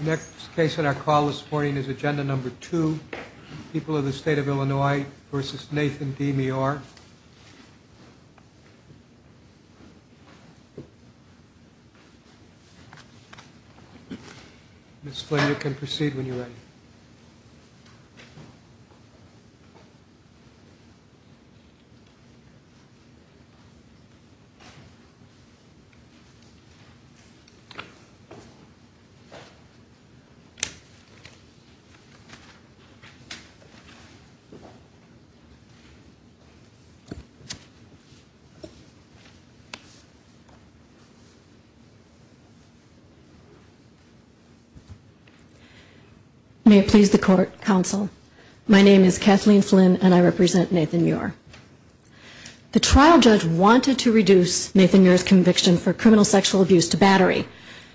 Next case on our call this morning is Agenda No. 2, People of the State of Illinois v. Nathan D. Meor. Ms. Flynn, you can proceed when you're ready. May it please the Court, Counsel. My name is Kathleen Flynn, and I represent Nathan Meor. The trial judge wanted to reduce Nathan Meor's conviction for criminal sexual abuse to battery.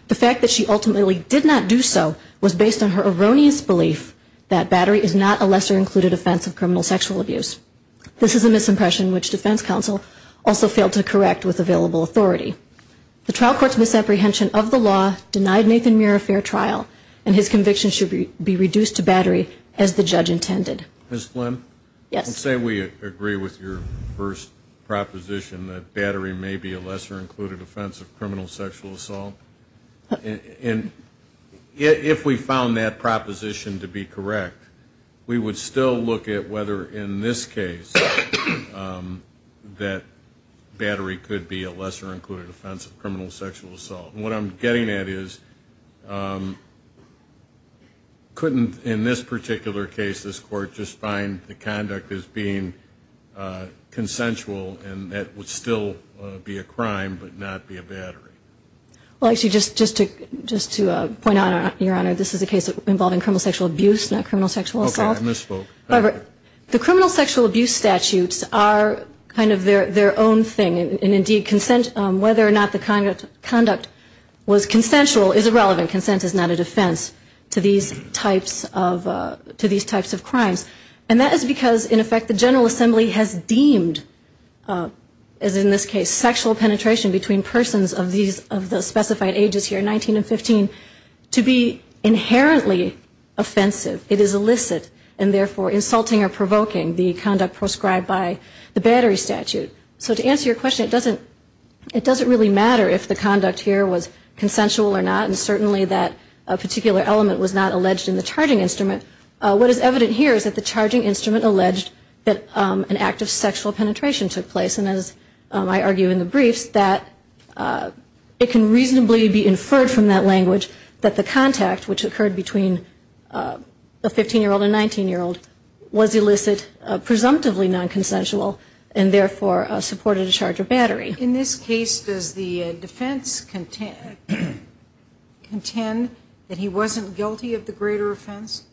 The fact that she ultimately did not do so was based on her erroneous belief that battery is not a lesser included offense of criminal sexual abuse. This is a misimpression which defense counsel also failed to correct with available authority. The trial court's misapprehension of the law denied Nathan Meor a fair trial, and his conviction should be reduced to battery as the judge intended. Ms. Flynn, let's say we agree with your first proposition that battery may be a lesser included offense of criminal sexual assault. If we found that proposition to be correct, we would still look at whether in this case that battery could be a lesser included offense of criminal sexual assault. What I'm getting at is, couldn't in this particular case this Court just find the conduct as being consensual and that would still be a crime but not be a battery? Well, actually, just to point out, Your Honor, this is a case involving criminal sexual abuse, not criminal sexual assault. Okay, I misspoke. However, the criminal sexual abuse statutes are kind of their own thing, and indeed consent, whether or not the conduct was consensual is irrelevant. Consent is not a defense to these types of crimes. And that is because, in effect, the General Assembly has deemed, as in this case, sexual penetration between persons of the specified ages here, 19 and 15, to be inherently offensive. It is illicit, and therefore insulting or provoking the conduct proscribed by the battery statute. So to answer your question, it doesn't really matter if the conduct here was consensual or not, and certainly that particular element was not alleged in the charging instrument. What is evident here is that the charging instrument alleged that an act of sexual penetration took place, and as I argue in the briefs, that it can reasonably be inferred from that language that the contact, which occurred between a 15-year-old and a 19-year-old, was illicit, presumptively nonconsensual, and therefore supported a charge of battery. In this case, does the defense contend that he wasn't guilty of the greater offense?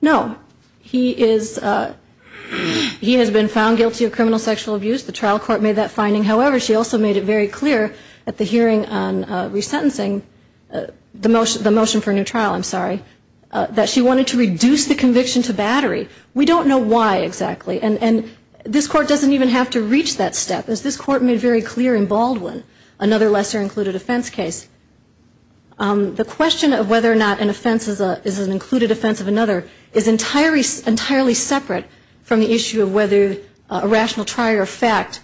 No. He is, he has been found guilty of criminal sexual abuse. The trial court made that finding. However, she also made it very clear at the hearing on resentencing, the motion for a new trial, I'm sorry, that she wanted to reduce the conviction to battery. We don't know why exactly, and this court doesn't even have to reach that step, as this court made very clear in Baldwin, another lesser-included offense case. The question of whether or not an offense is an included offense of another is entirely separate from the issue of whether a rational trier of fact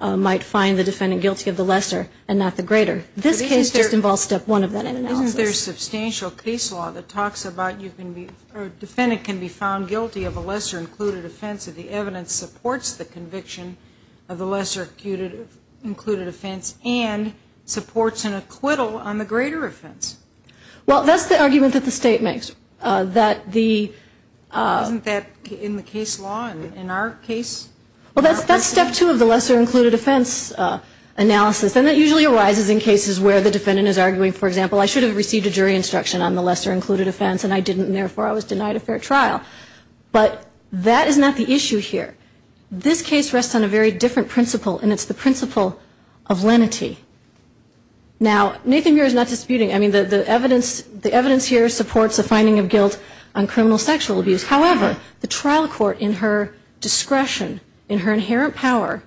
might find the defendant guilty of the lesser and not the greater. This case just involves step one of that analysis. Isn't there substantial case law that talks about you can be, or a defendant can be found guilty of a lesser-included offense if the evidence supports the conviction of the lesser-included offense and supports an acquittal on the greater offense? Well, that's the argument that the state makes. Isn't that in the case law in our case? Well, that's step two of the lesser-included offense analysis, and that usually arises in cases where the defendant is arguing, for example, I should have received a jury instruction on the lesser-included offense, and I didn't, and therefore I was denied a fair trial. But that is not the issue here. This case rests on a very different principle, and it's the principle of lenity. Now, Nathan Muir is not disputing. I mean, the evidence here supports a finding of guilt on criminal sexual abuse. However, the trial court in her discretion, in her inherent power,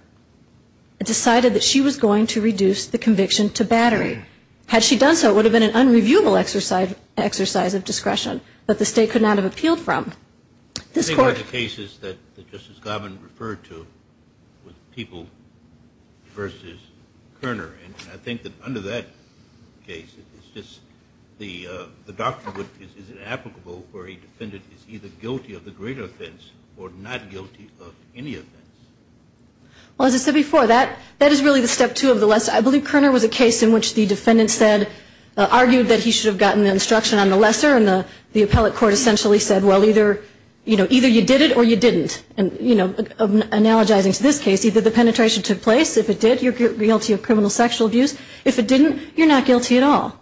decided that she was going to reduce the conviction to battery. Had she done so, it would have been an unreviewable exercise of discretion that the state could not have appealed from. I think one of the cases that Justice Garvin referred to was People v. Kerner, and I think that under that case, it's just the doctrine is inapplicable where a defendant is either guilty of the greater offense or not guilty of any offense. Well, as I said before, that is really the step two of the lesser- I believe Kerner was a case in which the defendant said, argued that he should have gotten the instruction on the lesser, and the appellate court essentially said, well, either you did it or you didn't. And analogizing to this case, either the penetration took place, if it did, you're guilty of criminal sexual abuse. If it didn't, you're not guilty at all.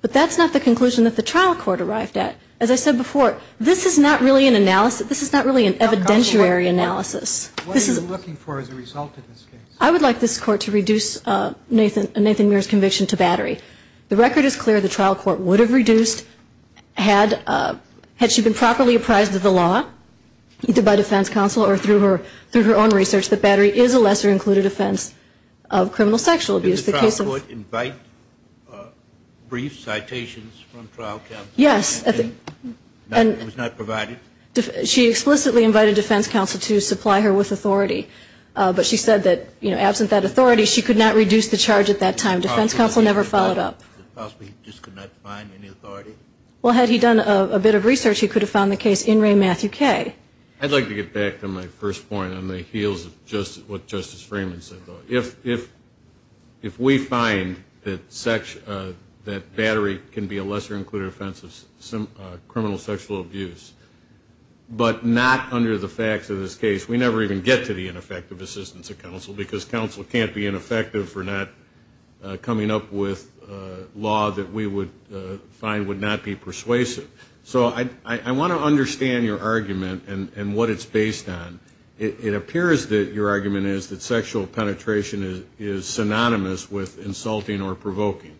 But that's not the conclusion that the trial court arrived at. As I said before, this is not really an evidentiary analysis. What are you looking for as a result of this case? I would like this court to reduce Nathan Muir's conviction to battery. The record is clear. The trial court would have reduced had she been properly apprised of the law, either by defense counsel or through her own research, that battery is a lesser-included offense of criminal sexual abuse. Did the trial court invite brief citations from trial counsel? Yes. It was not provided? She explicitly invited defense counsel to supply her with authority. But she said that, you know, absent that authority, she could not reduce the charge at that time. Defense counsel never followed up. Possibly he just could not find any authority? Well, had he done a bit of research, he could have found the case in Ray Matthew Kay. I'd like to get back to my first point on the heels of what Justice Freeman said. If we find that battery can be a lesser-included offense of criminal sexual abuse, but not under the facts of this case, we never even get to the ineffective assistance of counsel because counsel can't be ineffective for not coming up with law that we would find would not be persuasive. So I want to understand your argument and what it's based on. It appears that your argument is that sexual penetration is synonymous with insulting or provoking.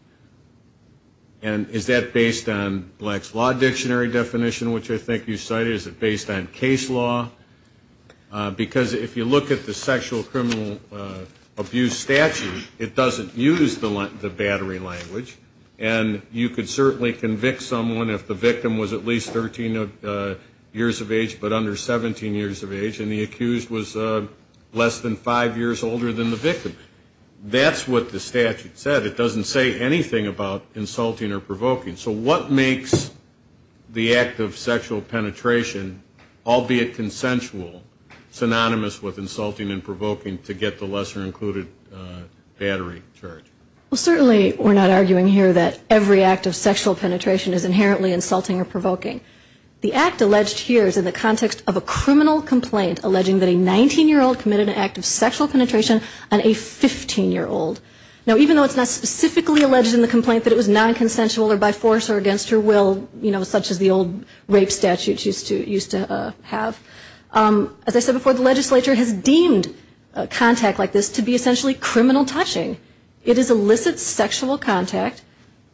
And is that based on Black's Law Dictionary definition, which I think you cited? Is it based on case law? Because if you look at the sexual criminal abuse statute, it doesn't use the battery language. And you could certainly convict someone if the victim was at least 13 years of age, but under 17 years of age, and the accused was less than five years older than the victim. That's what the statute said. It doesn't say anything about insulting or provoking. So what makes the act of sexual penetration, albeit consensual, synonymous with insulting and provoking to get the lesser-included battery charge? Well, certainly we're not arguing here that every act of sexual penetration is inherently insulting or provoking. The act alleged here is in the context of a criminal complaint alleging that a 19-year-old committed an act of sexual penetration on a 15-year-old. Now, even though it's not specifically alleged in the complaint that it was non-consensual or by force or against her will, you know, such as the old rape statute used to have, as I said before, the legislature has deemed contact like this to be essentially criminal touching. It is illicit sexual contact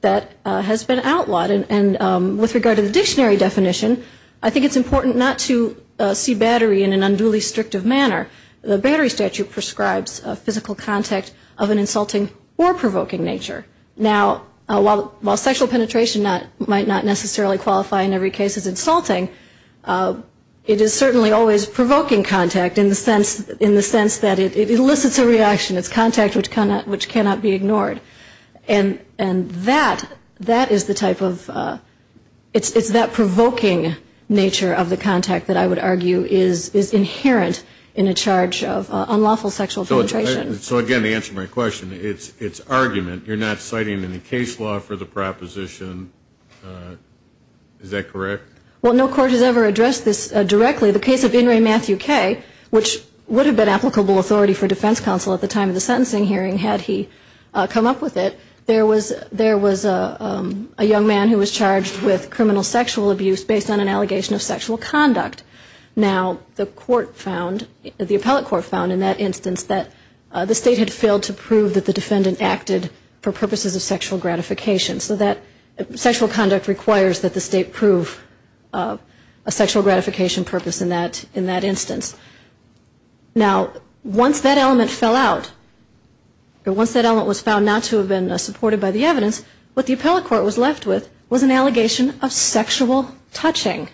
that has been outlawed. And with regard to the dictionary definition, I think it's important not to see battery in an unduly restrictive manner. The battery statute prescribes a physical contact of an insulting or provoking nature. Now, while sexual penetration might not necessarily qualify in every case as insulting, it is certainly always provoking contact in the sense that it elicits a reaction. It's contact which cannot be ignored. And that, that is the type of, it's that provoking nature of the contact that I would argue is inherent in a charge of unlawful sexual penetration. So again, to answer my question, it's argument. You're not citing any case law for the proposition. Is that correct? Well, no court has ever addressed this directly. The case of In re Matthew K., which would have been applicable authority for defense counsel at the time of the sentencing hearing had he come up with it, there was a young man who was charged with criminal sexual abuse based on an allegation of sexual conduct. Now, the court found, the appellate court found in that instance, that the state had failed to prove that the defendant acted for purposes of sexual gratification. So that sexual conduct requires that the state prove a sexual gratification purpose in that instance. Now, once that element fell out, once that element was found not to have been supported by the evidence, what the appellate court was left with was an allegation of sexual touching.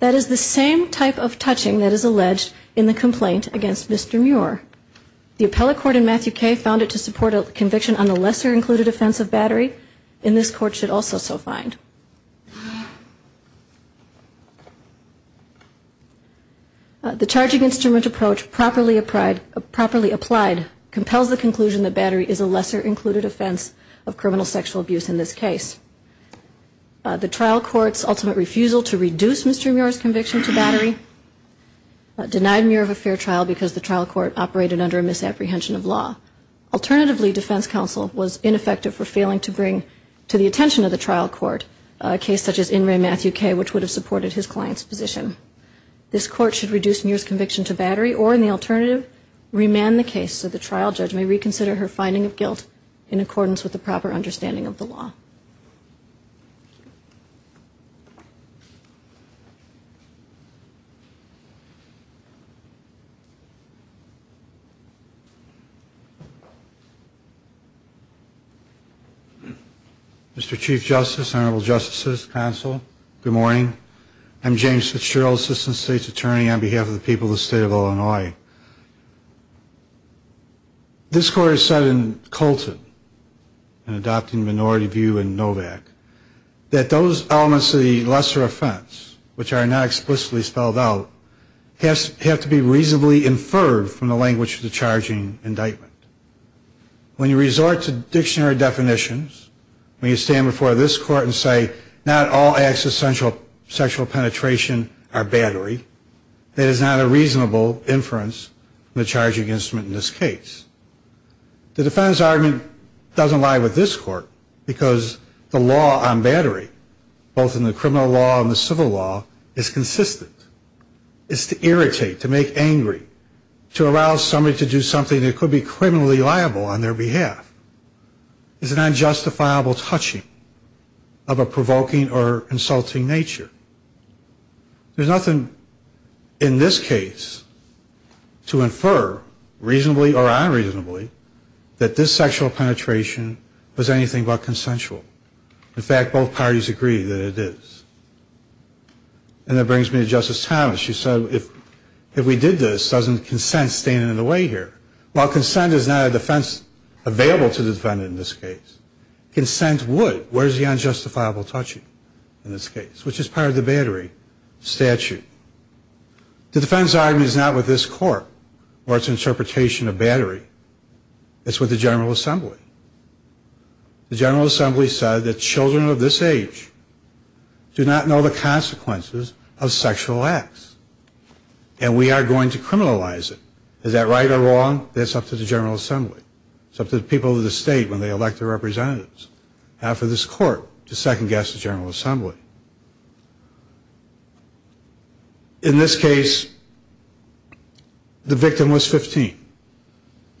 That is the same type of touching that is alleged in the complaint against Mr. Muir. The appellate court in Matthew K. found it to support a conviction on the lesser included offense of battery, and this court should also so find. The charging instrument approach properly applied compels the conclusion that battery is a lesser included offense of criminal sexual abuse in this case. The trial court's ultimate refusal to reduce Mr. Muir's conviction to battery denied Muir of a fair trial because the trial court operated under a misapprehension of law. Alternatively, defense counsel was ineffective for failing to bring to the attention of the trial court a case such as in Ray Matthew K., which would have supported his client's position. This court should reduce Muir's conviction to battery, or in the alternative, remand the case so the trial judge may reconsider her finding of guilt in accordance with the proper understanding of the law. Mr. Chief Justice, Honorable Justices, Counsel, good morning. I'm James Fitzgerald, Assistant State's Attorney on behalf of the people of the state of Illinois. This court has said in Colton, in adopting minority view in Novak, that those elements of the lesser offense which are not explicitly spelled out have to be reasonably inferred from the language of the charging indictment. When you resort to dictionary definitions, when you stand before this court and say, not all acts of sexual penetration are battery, that is not a reasonable inference from the charging instrument in this case. The defense argument doesn't lie with this court because the law on battery, both in the criminal law and the civil law, is consistent. It's to irritate, to make angry, to allow somebody to do something that could be criminally liable on their behalf. It's an unjustifiable touching of a provoking or insulting nature. There's nothing in this case to infer, reasonably or unreasonably, that this sexual penetration was anything but consensual. In fact, both parties agree that it is. And that brings me to Justice Thomas. She said if we did this, doesn't consent stand in the way here? While consent is not a defense available to the defendant in this case, consent would. Where's the unjustifiable touching in this case, which is part of the battery statute? The defense argument is not with this court or its interpretation of battery. It's with the General Assembly. The General Assembly said that children of this age do not know the consequences of sexual acts. And we are going to criminalize it. Is that right or wrong? That's up to the General Assembly. It's up to the people of the state when they elect their representatives. How for this court to second-guess the General Assembly? In this case, the victim was 15.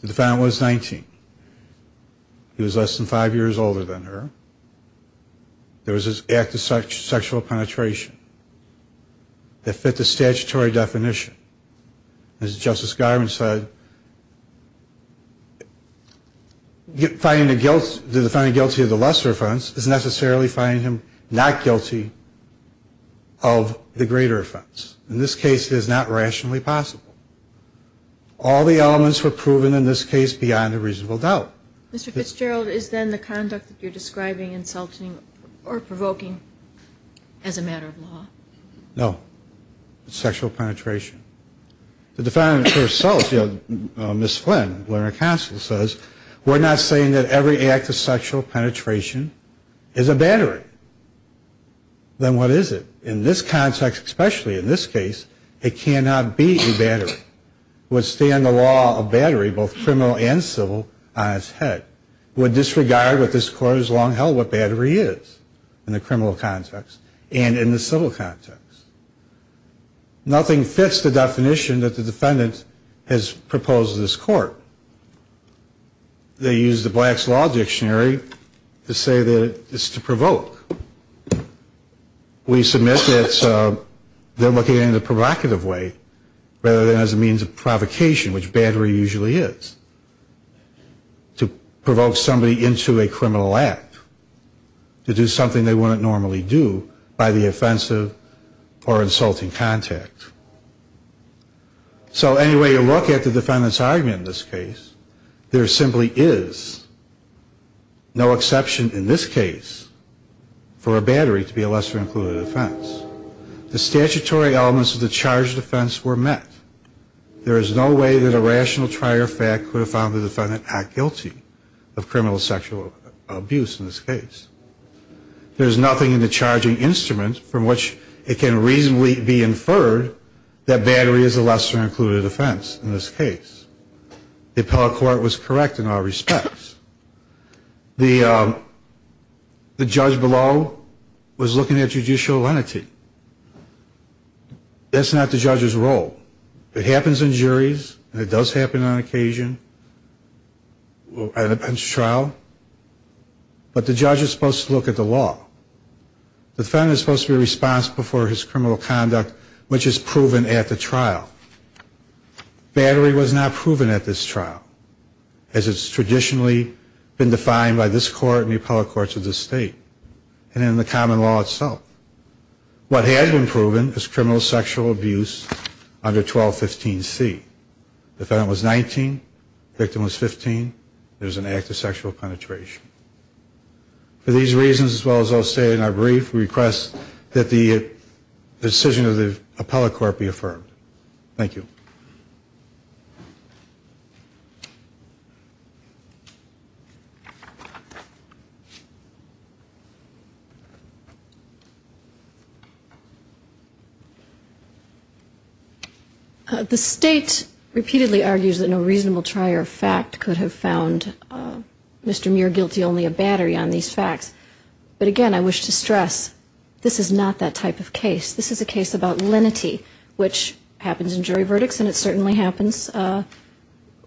The defendant was 19. He was less than five years older than her. There was an act of sexual penetration that fit the statutory definition. As Justice Garvin said, finding the defendant guilty of the lesser offense is necessarily finding him not guilty of the greater offense. In this case, it is not rationally possible. All the elements were proven in this case beyond a reasonable doubt. Mr. Fitzgerald, is then the conduct that you're describing insulting or provoking as a matter of law? No. It's sexual penetration. The defendant herself, you know, Ms. Flynn, lawyer of counsel, says, we're not saying that every act of sexual penetration is a battery. Then what is it? In this context, especially in this case, it cannot be a battery. It would stand the law of battery, both criminal and civil, on its head. It would disregard what this court has long held what battery is in the criminal context and in the civil context. Nothing fits the definition that the defendant has proposed to this court. They use the Black's Law Dictionary to say that it's to provoke. We submit that they're looking at it in a provocative way rather than as a means of provocation, which battery usually is, to provoke somebody into a criminal act, to do something they wouldn't normally do by the offensive or insulting contact. So any way you look at the defendant's argument in this case, there simply is no exception in this case for a battery to be a lesser included offense. The statutory elements of the charged offense were met. There is no way that a rational trier fact could have found the defendant not guilty of criminal sexual abuse in this case. There is nothing in the charging instrument from which it can reasonably be inferred that battery is a lesser included offense in this case. The appellate court was correct in all respects. The judge below was looking at judicial lenity. That's not the judge's role. It happens in juries, and it does happen on occasion in a bench trial, but the judge is supposed to look at the law. The defendant is supposed to be responsible for his criminal conduct, which is proven at the trial. Battery was not proven at this trial, as it's traditionally been defined by this court and the appellate courts of this state and in the common law itself. What had been proven is criminal sexual abuse under 1215C. Defendant was 19, victim was 15. There's an act of sexual penetration. For these reasons, as well as I'll say in our brief, we request that the decision of the appellate court be affirmed. Thank you. The state repeatedly argues that no reasonable trier of fact could have found Mr. Muir guilty only of battery on these facts. But, again, I wish to stress this is not that type of case. This is a case about lenity, which happens in jury verdicts, and it certainly happens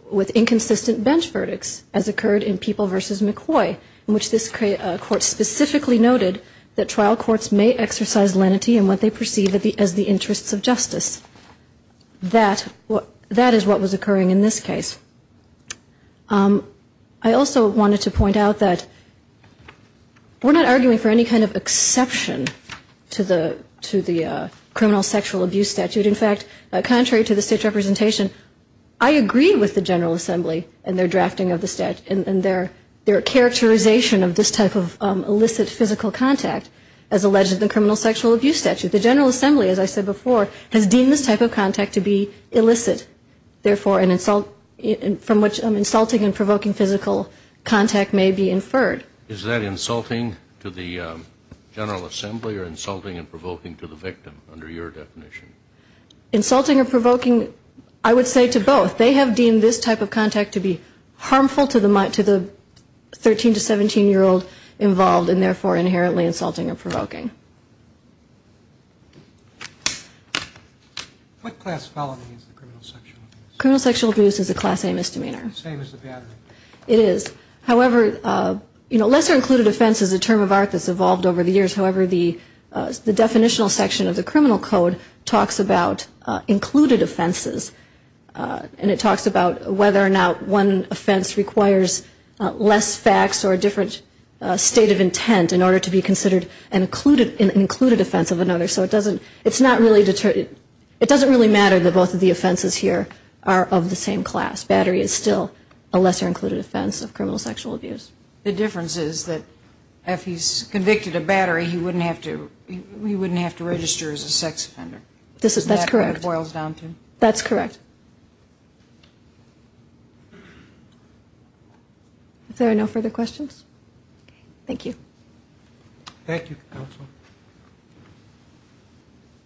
with inconsistent bench verdicts, as occurred in People v. McCoy, in which this court specifically noted that trial courts may exercise lenity in what they perceive as the interests of justice. That is what was occurring in this case. I also wanted to point out that we're not arguing for any kind of exception to the criminal sexual abuse statute. In fact, contrary to the state's representation, I agree with the General Assembly and their drafting of the statute and their characterization of this type of illicit physical contact as alleged in the criminal sexual abuse statute. The General Assembly, as I said before, has deemed this type of contact to be illicit, therefore, from which insulting and provoking physical contact may be inferred. Is that insulting to the General Assembly or insulting and provoking to the victim under your definition? Insulting or provoking, I would say to both. They have deemed this type of contact to be harmful to the 13- to 17-year-old involved and, therefore, inherently insulting or provoking. What class felony is the criminal sexual abuse? Criminal sexual abuse is a Class A misdemeanor. Same as the battery. It is. However, lesser included offense is a term of art that's evolved over the years. However, the definitional section of the criminal code talks about included offenses, and it talks about whether or not one offense requires less facts or a different state of intent in order to be considered an included offense of another. So it doesn't really matter that both of the offenses here are of the same class. Battery is still a lesser included offense of criminal sexual abuse. The difference is that if he's convicted of battery, he wouldn't have to register as a sex offender. That's correct. That's what it boils down to. That's correct. Thank you. Thank you, Counsel.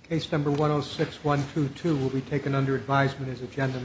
Case number 106-122 will be taken under advisement as agenda.